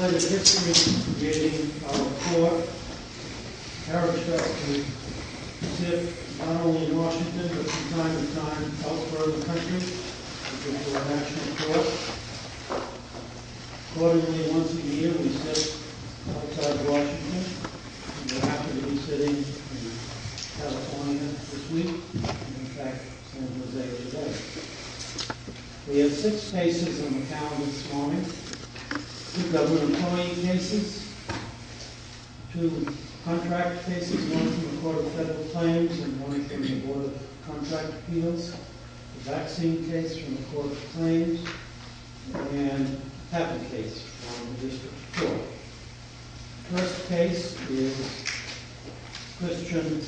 Legislative history beginning on the floor. I have the pleasure to sit, not only in Washington, but from time to time elsewhere in the country, at the National Court. Accordingly, once a year we sit outside of Washington, and we're happy to be sitting in California this week, and in fact, San Jose today. We have six cases on the calendar this morning. Two government employee cases, two contract cases, one from the Court of Federal Claims, and one from the Board of Contract Appeals, a vaccine case from the Court of Claims, and a patent case from the District Court. The first case is Christian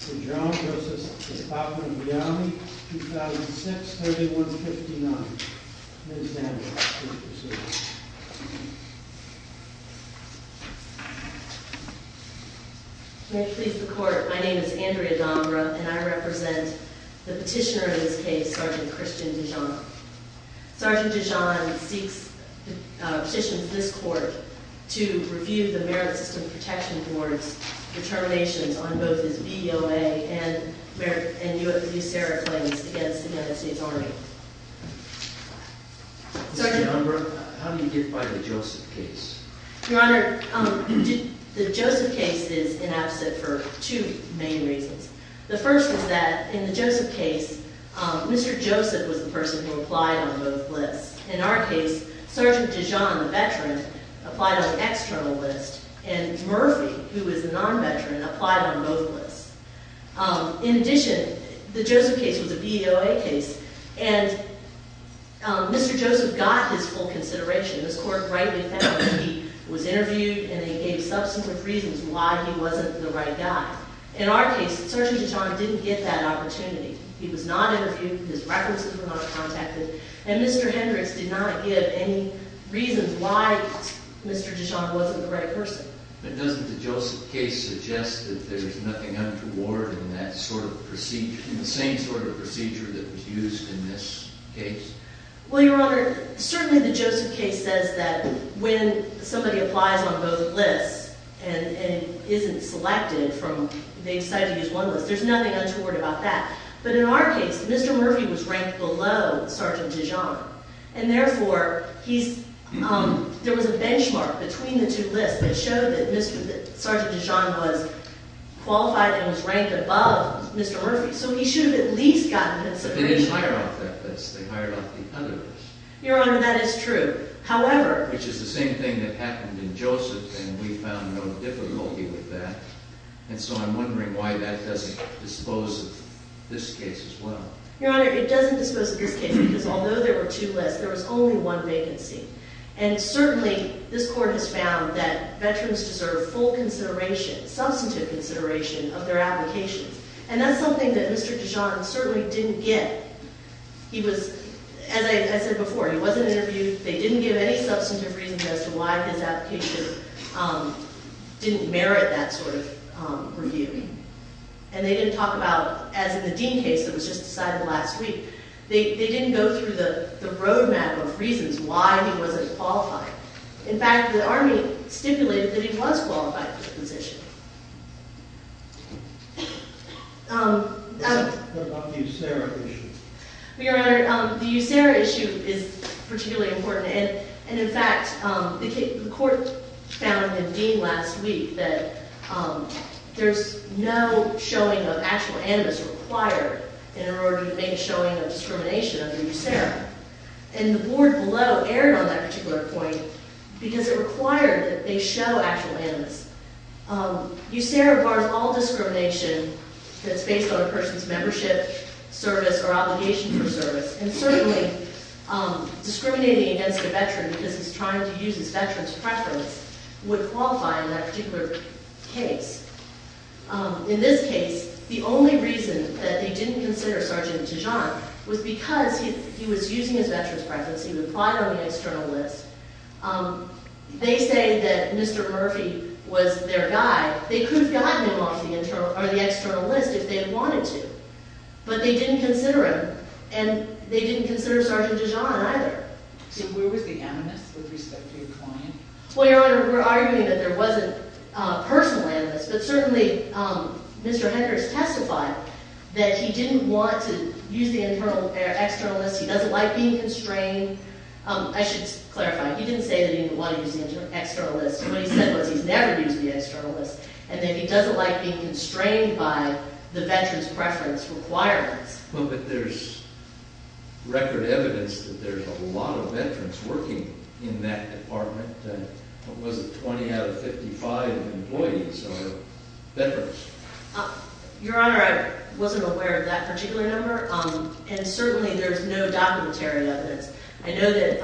DeJohn v. The Department of Reality, 2006, 3159. Ms. Dondra, please proceed. May it please the Court, my name is Andrea Dondra, and I represent the petitioner in this case, Sergeant Christian DeJohn. Sergeant DeJohn seeks a petition from this Court to review the Merit System Protection Board's determinations on both his VOA and USARA claims against the United States Army. Mr. Dondra, how do you get by the Joseph case? Your Honor, the Joseph case is inabsent for two main reasons. The first is that in the Joseph case, Mr. Joseph was the person who applied on both lists. In our case, Sergeant DeJohn, the veteran, applied on the external list, and Murphy, who is the non-veteran, applied on both lists. In addition, the Joseph case was a VOA case, and Mr. Joseph got his full consideration. This Court rightly found he was interviewed, and they gave subsequent reasons why he wasn't the right guy. In our case, Sergeant DeJohn didn't get that opportunity. He was not interviewed, his references were not contacted, and Mr. Hendricks did not give any reasons why Mr. DeJohn wasn't the right person. But doesn't the Joseph case suggest that there's nothing untoward in that sort of procedure, in the same sort of procedure that was used in this case? Well, Your Honor, certainly the Joseph case says that when somebody applies on both lists and isn't selected from, they decide to use one list, there's nothing untoward about that. But in our case, Mr. Murphy was ranked below Sergeant DeJohn, and therefore, there was a benchmark between the two lists that showed that Sergeant DeJohn was qualified and was ranked above Mr. Murphy, so he should have at least gotten that submission. But they didn't hire off that list, they hired off the other list. Your Honor, that is true. However... Which is the same thing that happened in Joseph, and we found no difficulty with that. And so I'm wondering why that doesn't dispose of this case as well. Your Honor, it doesn't dispose of this case, because although there were two lists, there was only one vacancy. And certainly, this Court has found that veterans deserve full consideration, substantive consideration, of their applications. And that's something that Mr. DeJohn certainly didn't get. He was, as I said before, he wasn't interviewed, they didn't give any substantive reasons as to why his application didn't merit that sort of review. And they didn't talk about, as in the Dean case that was just decided last week, they didn't go through the road map of reasons why he wasn't qualified. In fact, the Army stipulated that he was qualified for the position. What about the USARA issue? Your Honor, the USARA issue is particularly important. And in fact, the Court found in the Dean last week that there's no showing of actual animus required in order to make a showing of discrimination under USARA. And the board below erred on that particular point, because it required that they show actual animus. USARA bars all discrimination that's based on a person's membership, service, or obligation for service. And certainly, discriminating against a veteran because he's trying to use his veteran's preference would qualify in that particular case. In this case, the only reason that they didn't consider Sergeant DeJohn was because he was using his veteran's preference. He would apply on the external list. They say that Mr. Murphy was their guy. They could have gotten him off the external list if they wanted to. But they didn't consider him. And they didn't consider Sergeant DeJohn either. So where was the animus with respect to your client? Well, Your Honor, we're arguing that there wasn't personal animus. But certainly, Mr. Henkers testified that he didn't want to use the external list. He doesn't like being constrained. I should clarify. He didn't say that he didn't want to use the external list. What he said was he's never used the external list. And then he doesn't like being constrained by the veteran's preference requirements. Well, but there's record evidence that there's a lot of veterans working in that department. What was it, 20 out of 55 employees are veterans. Your Honor, I wasn't aware of that particular number. And certainly, there's no documentary evidence. I know that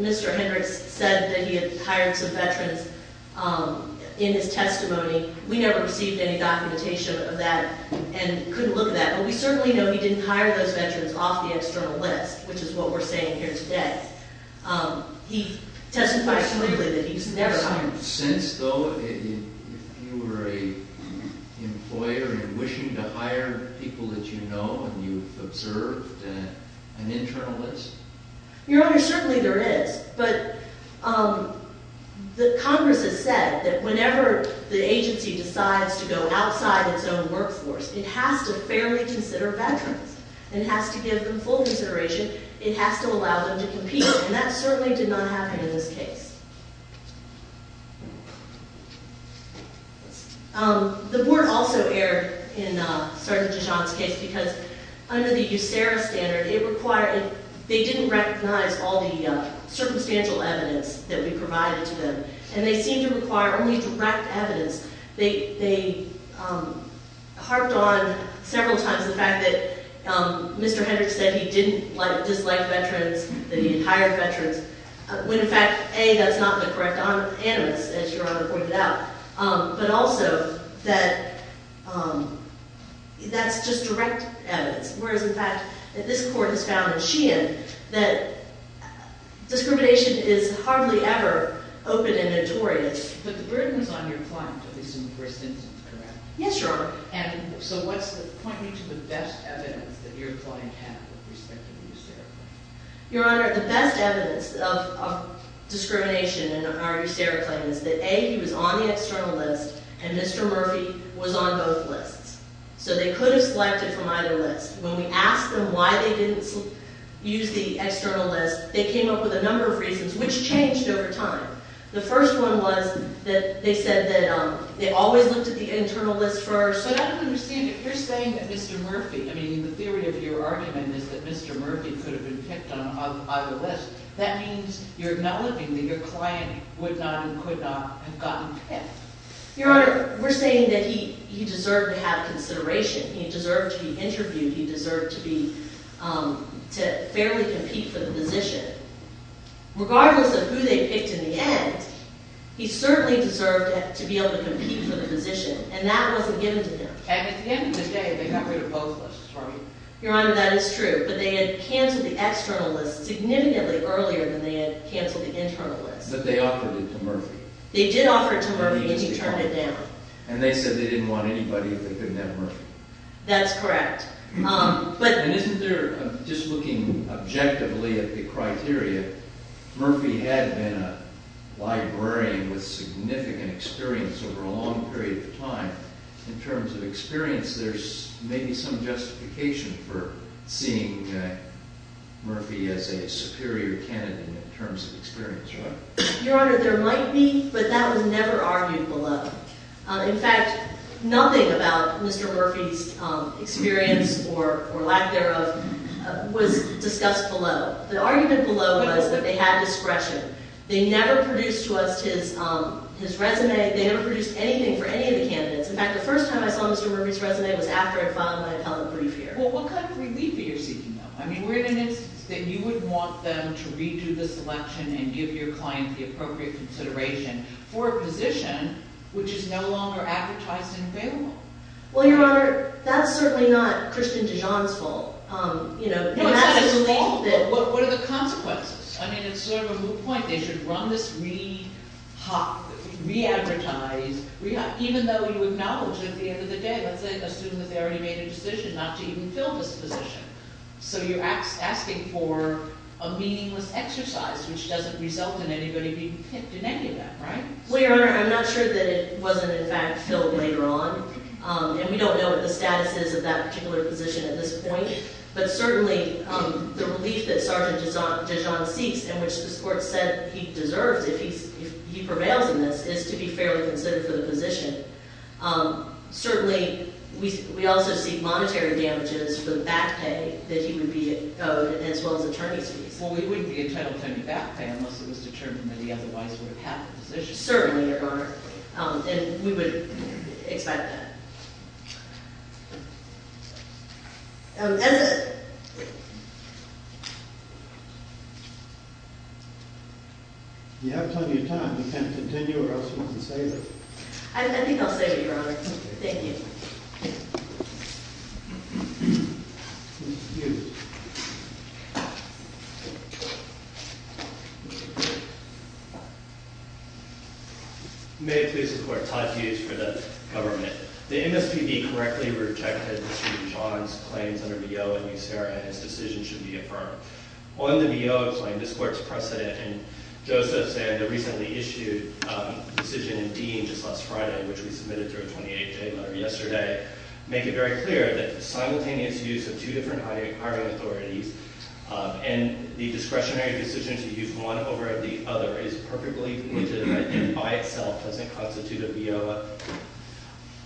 Mr. Hendricks said that he had hired some veterans in his testimony. We never received any documentation of that and couldn't look at that. But we certainly know he didn't hire those veterans off the external list, which is what we're saying here today. He testified clearly that he's never hired them. Your Honor, certainly there is. But Congress has said that whenever the agency decides to go outside its own workforce, it has to fairly consider veterans. It has to give them full consideration. It has to allow them to compete. And that certainly did not happen in this case. The board also erred in Sergeant Dijon's case because under the USERRA standard, they didn't recognize all the circumstantial evidence that we provided to them. And they seemed to require only direct evidence. They harped on several times the fact that Mr. Hendricks said he didn't dislike veterans, that he didn't hire veterans. When, in fact, A, that's not the correct animus, as Your Honor pointed out. But also that that's just direct evidence. Whereas, in fact, this Court has found in Sheehan that discrimination is hardly ever open and notorious. But the burden is on your client, at least in the first instance, correct? Yes, Your Honor. And so point me to the best evidence that your client had with respect to the USERRA claim. Your Honor, the best evidence of discrimination in our USERRA claim is that, A, he was on the external list, and Mr. Murphy was on both lists. So they could have selected from either list. When we asked them why they didn't use the external list, they came up with a number of reasons, which changed over time. The first one was that they said that they always looked at the internal list first. But I don't understand it. You're saying that Mr. Murphy – I mean, the theory of your argument is that Mr. Murphy could have been picked on either list. That means you're acknowledging that your client would not and could not have gotten picked. Your Honor, we're saying that he deserved to have consideration. He deserved to be interviewed. He deserved to fairly compete for the position. Regardless of who they picked in the end, he certainly deserved to be able to compete for the position. And that wasn't given to them. And at the end of the day, they got rid of both lists, aren't they? Your Honor, that is true. But they had canceled the external list significantly earlier than they had canceled the internal list. But they offered it to Murphy. They did offer it to Murphy, but you turned it down. And they said they didn't want anybody if they couldn't have Murphy. That's correct. And isn't there, just looking objectively at the criteria, Murphy had been a librarian with significant experience over a long period of time. In terms of experience, there's maybe some justification for seeing Murphy as a superior candidate in terms of experience, right? Your Honor, there might be, but that was never argued below. In fact, nothing about Mr. Murphy's experience or lack thereof was discussed below. The argument below was that they had discretion. They never produced to us his resume. They never produced anything for any of the candidates. In fact, the first time I saw Mr. Murphy's resume was after I filed my appellate brief here. Well, what kind of relief are you seeking, though? I mean, we're in an instance that you would want them to redo the selection and give your client the appropriate consideration for a position which is no longer advertised and available. Well, Your Honor, that's certainly not Christian Dijon's fault. No, it's not his fault. What are the consequences? I mean, it's sort of a moot point. They should run this re-hot, re-advertised, even though you acknowledge at the end of the day, let's assume that they already made a decision not to even fill this position. So you're asking for a meaningless exercise, which doesn't result in anybody being picked in any of that, right? Well, Your Honor, I'm not sure that it wasn't, in fact, filled later on. And we don't know what the status is of that particular position at this point. But certainly, the relief that Sergeant Dijon seeks, in which this Court said he deserves if he prevails in this, is to be fairly considered for the position. Certainly, we also see monetary damages for the back pay that he would be owed as well as attorney's fees. Well, we wouldn't be entitled to any back pay unless it was determined that he otherwise would have had the position. Certainly, Your Honor. And we would expect that. You have plenty of time. You can continue or else you can save it. I think I'll save it, Your Honor. Thank you. May it please the Court. Todd Hughes for the Government. The MSPB correctly rejected Sergeant Dijon's claims under VO in New Sierra, and his decision should be affirmed. On the VO claim, this Court's precedent and Joseph's and the recently issued decision in Dean just last Friday, which we submitted through a 28-day letter yesterday, make it very clear that the simultaneous use of two different hiring authorities and the discretionary decision to use one over the other is perfectly legitimate and by itself doesn't constitute a VO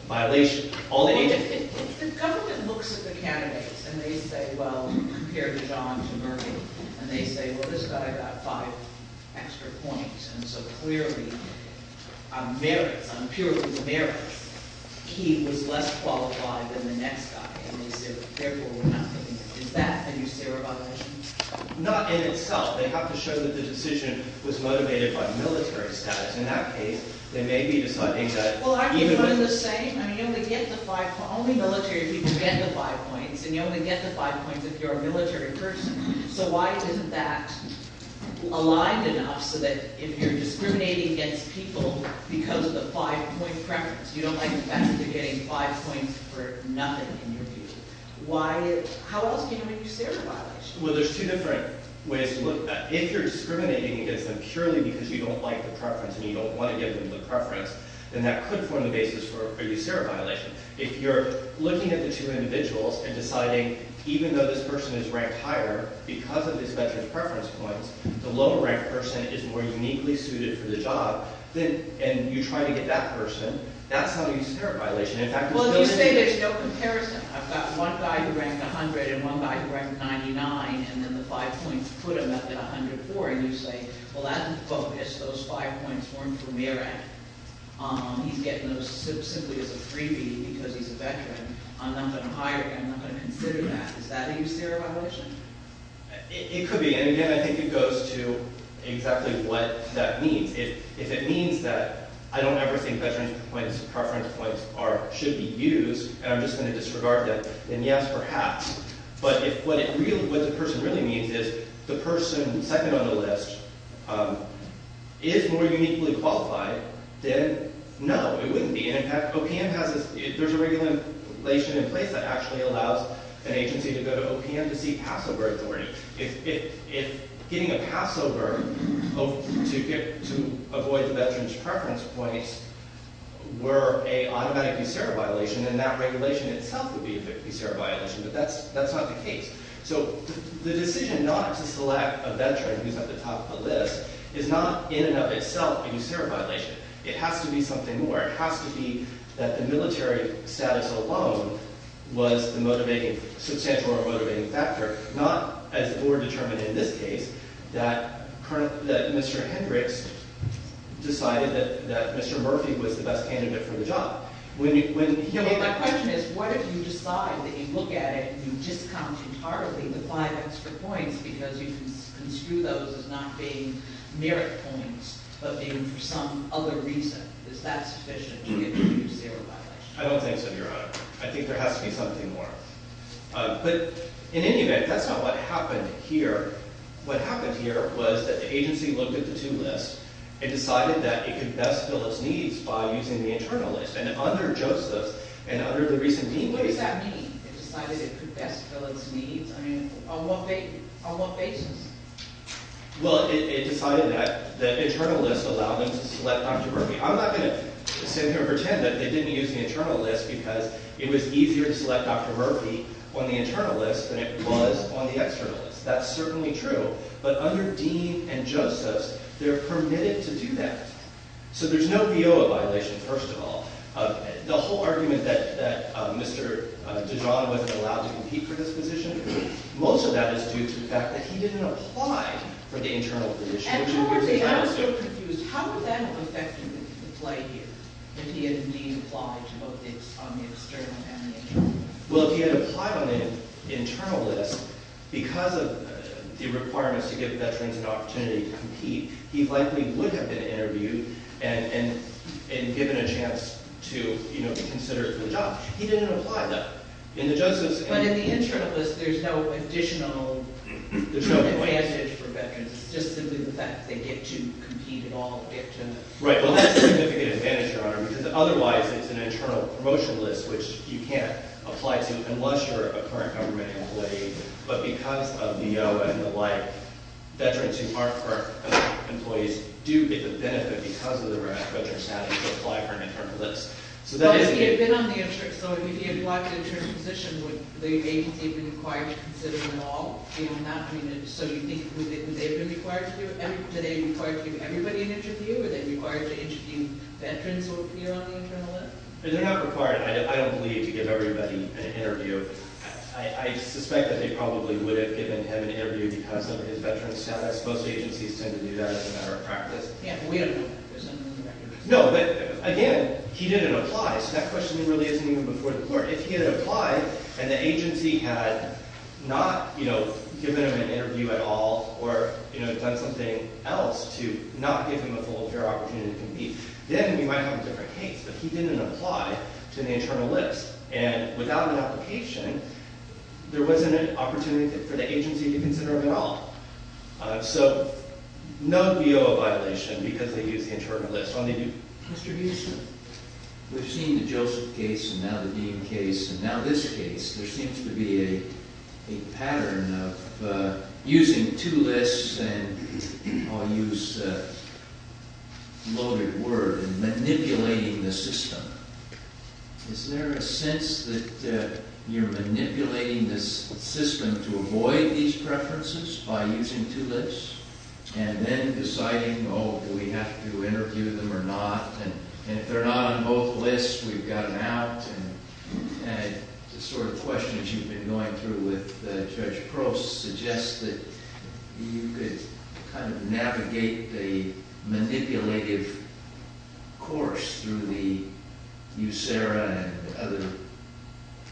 violation. The government looks at the candidates and they say, well, compare Dijon to Murphy. And they say, well, this guy got five extra points. And so clearly, on merits, on purely merits, he was less qualified than the next guy. And they said, therefore, we're not going to use him. Is that a new Sierra violation? Not in itself. They have to show that the decision was motivated by military status. In that case, they may be deciding that even with— Well, aren't you kind of the same? I mean, you only get the five—only military people get the five points. And you only get the five points if you're a military person. So why isn't that aligned enough so that if you're discriminating against people because of the five-point preference, you don't like the fact that you're getting five points for nothing in your view? Why—how else can you make a Sierra violation? Well, there's two different ways to look at it. If you're discriminating against them purely because you don't like the preference and you don't want to give them the preference, then that could form the basis for a Sierra violation. If you're looking at the two individuals and deciding even though this person is ranked higher because of this veteran's preference points, the lower-ranked person is more uniquely suited for the job, then—and you try to get that person, that's not a Sierra violation. In fact, there's no— And you say, well, that didn't focus. Those five points weren't for merit. He's getting those simply as a freebie because he's a veteran. I'm not going to hire him. I'm not going to consider that. Is that a Sierra violation? It could be. And again, I think it goes to exactly what that means. If it means that I don't ever think veterans' preference points are—should be used, and I'm just going to disregard that, then yes, perhaps. But if what it really—what the person really needs is the person second on the list is more uniquely qualified, then no, it wouldn't be. And in fact, OPM has this—there's a regulation in place that actually allows an agency to go to OPM to seek passover authority. If getting a passover to avoid the veteran's preference points were an automatic Sierra violation, then that regulation itself would be a Sierra violation. But that's not the case. So the decision not to select a veteran who's at the top of the list is not in and of itself a Sierra violation. It has to be something more. It has to be that the military status alone was the motivating—substantial or motivating factor, not, as the board determined in this case, that Mr. Hendricks decided that Mr. Murphy was the best candidate for the job. My question is, what if you decide that you look at it and you discount entirely the five extra points because you can construe those as not being merit points but being for some other reason? Is that sufficient to introduce Sierra violations? I don't think so, Your Honor. I think there has to be something more. But in any event, that's not what happened here. What happened here was that the agency looked at the two lists and decided that it could best fill its needs by using the internal list. And under Joseph's and under the recent Dean case— What does that mean? It decided it could best fill its needs? I mean, on what basis? Well, it decided that the internal list allowed them to select Dr. Murphy. I'm not going to sit here and pretend that they didn't use the internal list because it was easier to select Dr. Murphy on the internal list than it was on the external list. That's certainly true. But under Dean and Joseph's, they're permitted to do that. So there's no P.O.A. violation, first of all. The whole argument that Mr. Dijon wasn't allowed to compete for this position, most of that is due to the fact that he didn't apply for the internal list. And towards the end, I'm still confused. How would that have affected the play here if he had indeed applied to both the external and the internal list? Well, if he had applied on the internal list, because of the requirements to give veterans an opportunity to compete, he likely would have been interviewed and given a chance to be considered for the job. He didn't apply, though. But in the internal list, there's no additional advantage for veterans. It's just simply the fact that they get to compete at all. Right. Well, that's a significant advantage, Your Honor, because otherwise it's an internal promotion list, which you can't apply to unless you're a current government employee. But because of the P.O.A. and the like, veterans who aren't current employees do get the benefit because of the veteran status to apply for an internal list. So that is the case. So if he had applied to the internal position, would the agency have been required to consider them all? So would they have been required to do it? Do they require to give everybody an interview? Are they required to interview veterans who appear on the internal list? They're not required. I don't believe you give everybody an interview. I suspect that they probably would have given him an interview because of his veteran status. Most agencies tend to do that as a matter of practice. Yeah. We don't know that. There's nothing in the records. No, but again, he didn't apply. So that question really isn't even before the court. If he had applied and the agency had not, you know, given him an interview at all or, you know, done something else to not give him a full affair opportunity to compete, then we might have a different case. But he didn't apply to the internal list. And without an application, there wasn't an opportunity for the agency to consider him at all. So no P.O.A. violation because they used the internal list. Mr. Houston? We've seen the Joseph case and now the Dean case and now this case. There seems to be a pattern of using two lists and I'll use a loaded word, manipulating the system. Is there a sense that you're manipulating the system to avoid these preferences by using two lists and then deciding, oh, do we have to interview them or not? And if they're not on both lists, we've got them out. And the sort of questions you've been going through with Judge Prost suggest that you could kind of navigate the manipulative course through the USERRA and other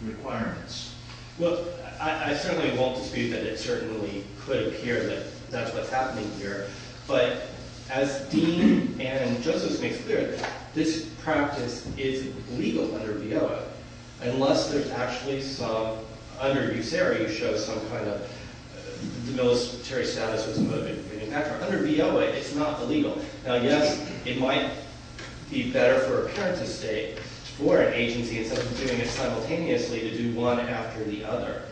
requirements. Well, I certainly won't dispute that it certainly could appear that that's what's happening here. But as Dean and Joseph make clear, this practice is legal under V.O.A. Unless there's actually some – under USERRA, you show some kind of debilitary status. Under V.O.A., it's not illegal. Now, yes, it might be better for a parent to stay for an agency instead of doing it simultaneously to do one after the other,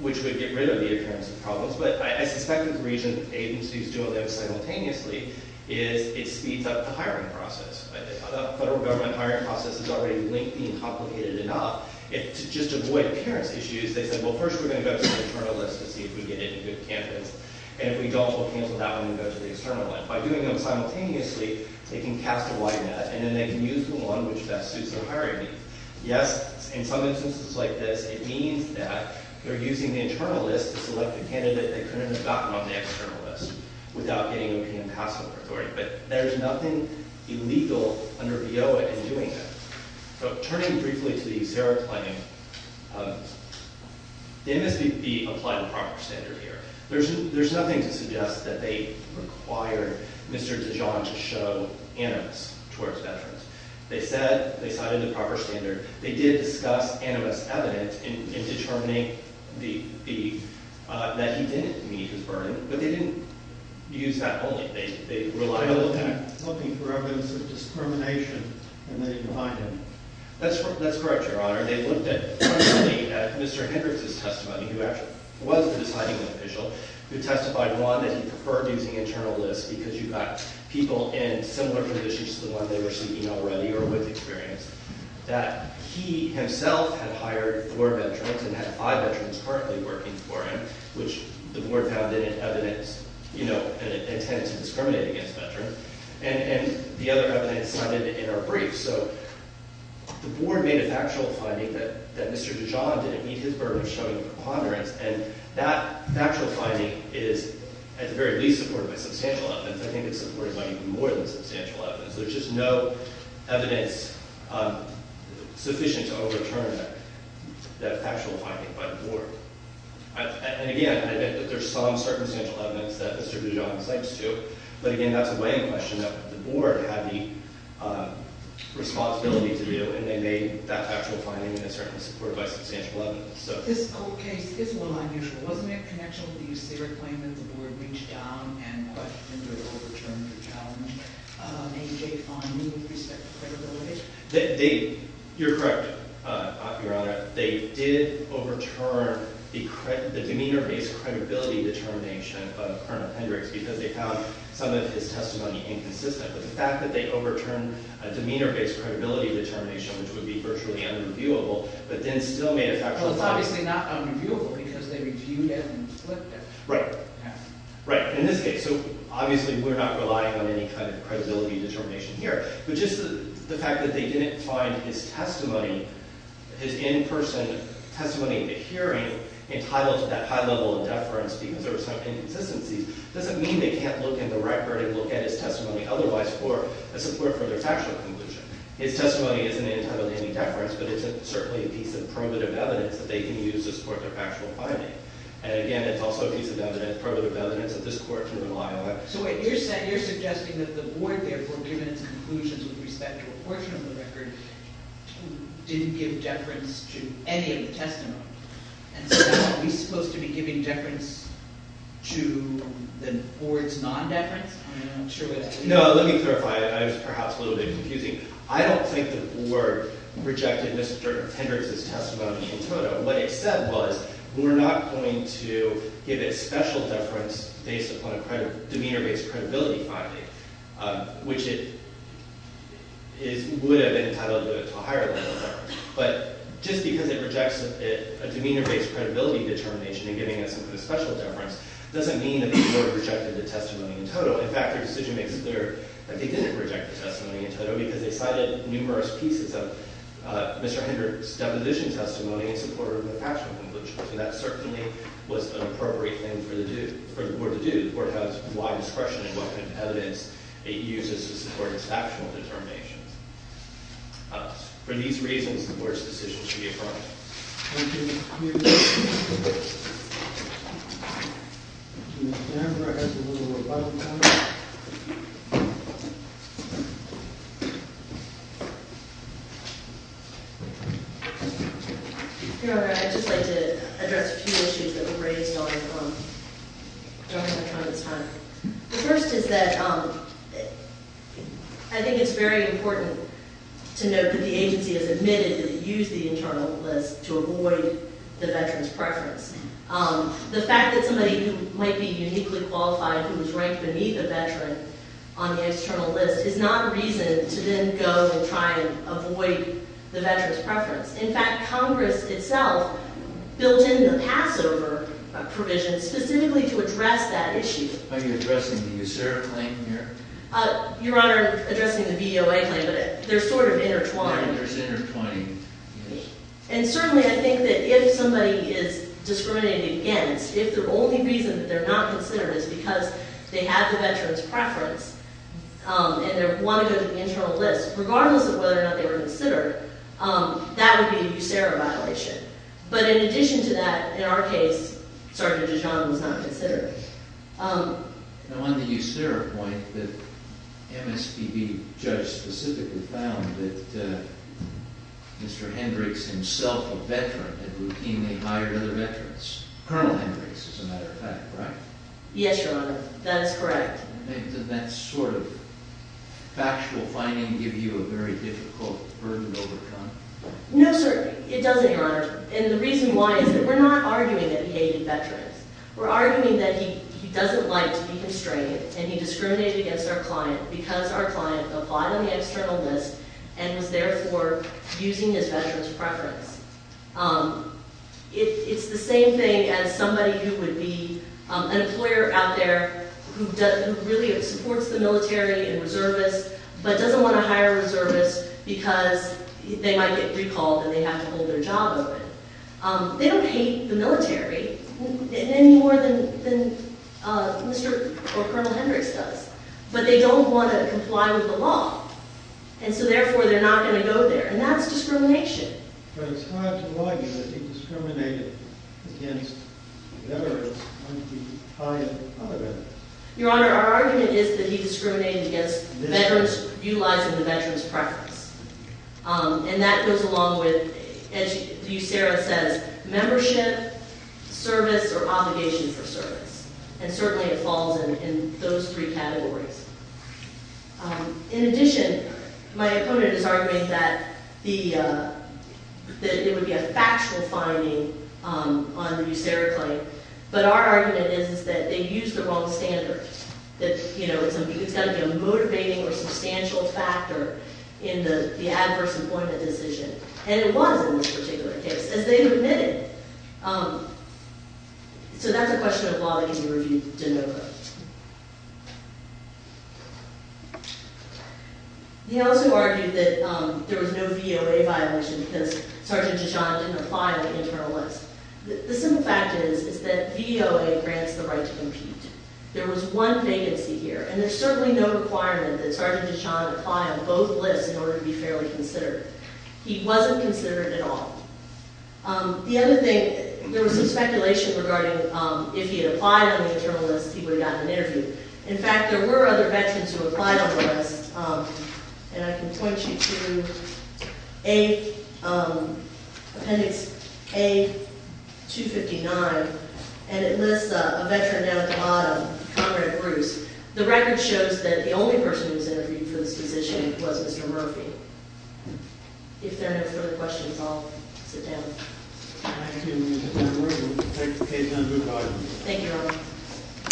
which would get rid of the appearance of problems. But I suspect the reason agencies do it simultaneously is it speeds up the hiring process. The federal government hiring process is already lengthy and complicated enough. To just avoid appearance issues, they said, well, first we're going to go to the internal list to see if we get any good candidates. And if we don't, we'll cancel that one and go to the external one. By doing them simultaneously, they can cast a wide net and then they can use the one which best suits their hiring need. Yes, in some instances like this, it means that they're using the internal list to select a candidate they couldn't have gotten on the external list without getting O.P.M. passport authority. But there's nothing illegal under V.O.A. in doing that. So turning briefly to the USERRA claim, they must be applied to proper standard here. There's nothing to suggest that they require Mr. Dijon to show animus towards veterans. They said they cited the proper standard. They did discuss animus evidence in determining that he didn't meet his burden. But they didn't use that only. They relied on that. They were looking for evidence of discrimination and they didn't find any. That's correct, Your Honor. They looked at Mr. Hendricks' testimony, who actually was the deciding official, who testified, one, that he preferred using internal list because you've got people in similar conditions to the one they were seeking O.P.M. already or with experience, that he himself had hired four veterans and had five veterans currently working for him, which the board found in evidence, you know, intended to discriminate against veterans. And the other evidence cited in our brief. So the board made a factual finding that Mr. Dijon didn't meet his burden of showing preponderance. And that factual finding is at the very least supported by substantial evidence. I think it's supported by even more than substantial evidence. There's just no evidence sufficient to overturn that factual finding by the board. And, again, there's some circumstantial evidence that Mr. Dijon cites, too. But, again, that's a weighing question that the board had the responsibility to do, and they made that factual finding that's certainly supported by substantial evidence. This whole case is a little unusual. Wasn't there a connection with the USAREC claim that the board reached down and under-overturned the challenge? Maybe they found new respect for credibility? You're correct, Your Honor. They did overturn the demeanor-based credibility determination of Colonel Hendricks because they found some of his testimony inconsistent. But the fact that they overturned a demeanor-based credibility determination, which would be virtually unreviewable, but then still made a factual finding. Well, it's obviously not unreviewable because they reviewed it and flipped it. Right. Right, in this case. So, obviously, we're not relying on any kind of credibility determination here. But just the fact that they didn't find his testimony, his in-person testimony in the hearing, entitled to that high level of deference because there were some inconsistencies, doesn't mean they can't look in the record and look at his testimony otherwise for a support for their factual conclusion. His testimony isn't entitled to any deference, but it's certainly a piece of primitive evidence that they can use to support their factual finding. And, again, it's also a piece of evidence, primitive evidence, that this court can rely on. So, wait, you're suggesting that the board, therefore, given its conclusions with respect to a portion of the record, didn't give deference to any of the testimony. And so now we're supposed to be giving deference to the board's non-deference? I'm not sure what that means. No, let me clarify. I was perhaps a little bit confusing. I don't think the board rejected Mr. Hendricks' testimony in total. What it said was, we're not going to give a special deference based upon a demeanor-based credibility finding, which it would have entitled to a higher level of deference. But just because it rejects a demeanor-based credibility determination and giving us a special deference doesn't mean that the board rejected the testimony in total. In fact, their decision makes it clear that they didn't reject the testimony in total because they cited numerous pieces of Mr. Hendricks' deposition testimony in support of the factual conclusion. So that certainly was an appropriate thing for the board to do. The board has wide discretion in what kind of evidence it uses to support its factual determinations. For these reasons, the board's decision should be affirmed. Thank you. Thank you. Your Honor, I'd just like to address a few issues that were raised during my time this time. The first is that I think it's very important to note that the agency has admitted that it used the internal list to avoid the veteran's preference. The fact that somebody who might be uniquely qualified who was ranked beneath a veteran on the external list is not reason to then go and try and avoid the veteran's preference. In fact, Congress itself built in the Passover provision specifically to address that issue. Are you addressing the USERA claim here? Your Honor, I'm addressing the VOA claim, but they're sort of intertwined. There's intertwining issues. And certainly I think that if somebody is discriminated against, if the only reason that they're not considered is because they have the veteran's preference and they want to go to the internal list, regardless of whether or not they were considered, that would be a USERA violation. But in addition to that, in our case, Sergeant DeJohn was not considered. Now on the USERA point, the MSPB judge specifically found that Mr. Hendricks himself, a veteran, had routinely hired other veterans. Colonel Hendricks, as a matter of fact, right? Yes, Your Honor. That is correct. Does that sort of factual finding give you a very difficult burden to overcome? No, sir. It doesn't, Your Honor. And the reason why is that we're not arguing that he hated veterans. We're arguing that he doesn't like to be constrained and he discriminated against our client because our client applied on the external list and was there for using his veteran's preference. It's the same thing as somebody who would be an employer out there who really supports the military and reservists but doesn't want to hire reservists because they might get recalled and they have to hold their job open. They don't hate the military any more than Mr. or Colonel Hendricks does. But they don't want to comply with the law. And so therefore, they're not going to go there. And that's discrimination. But it's hard to argue that he discriminated against veterans when he hired other veterans. Your Honor, our argument is that he discriminated against veterans utilizing the veteran's preference. And that goes along with, as you, Sarah, says, membership, service, or obligation for service. And certainly it falls in those three categories. In addition, my opponent is arguing that it would be a factual finding on the new Sarah claim. But our argument is that they used the wrong standards, that it's got to be a motivating or substantial factor in the adverse employment decision. And it was in this particular case, as they admitted. So that's a question of law that can be reviewed de novo. He also argued that there was no VOA violation because Sergeant DeJohn didn't apply on the internal list. The simple fact is that VOA grants the right to compete. There was one vacancy here. And there's certainly no requirement that Sergeant DeJohn apply on both lists in order to be fairly considered. He wasn't considered at all. The other thing, there was some speculation regarding if he had applied on the internal list, he would have gotten an interview. In fact, there were other veterans who applied on the list. And I can point you to Appendix A259. And it lists a veteran down at the bottom, Conrad Bruce. The record shows that the only person who was interviewed for this position was Mr. Murphy. If there are no further questions, I'll sit down. Thank you, Ms. DeJohn. We'll take the case under audit. Thank you.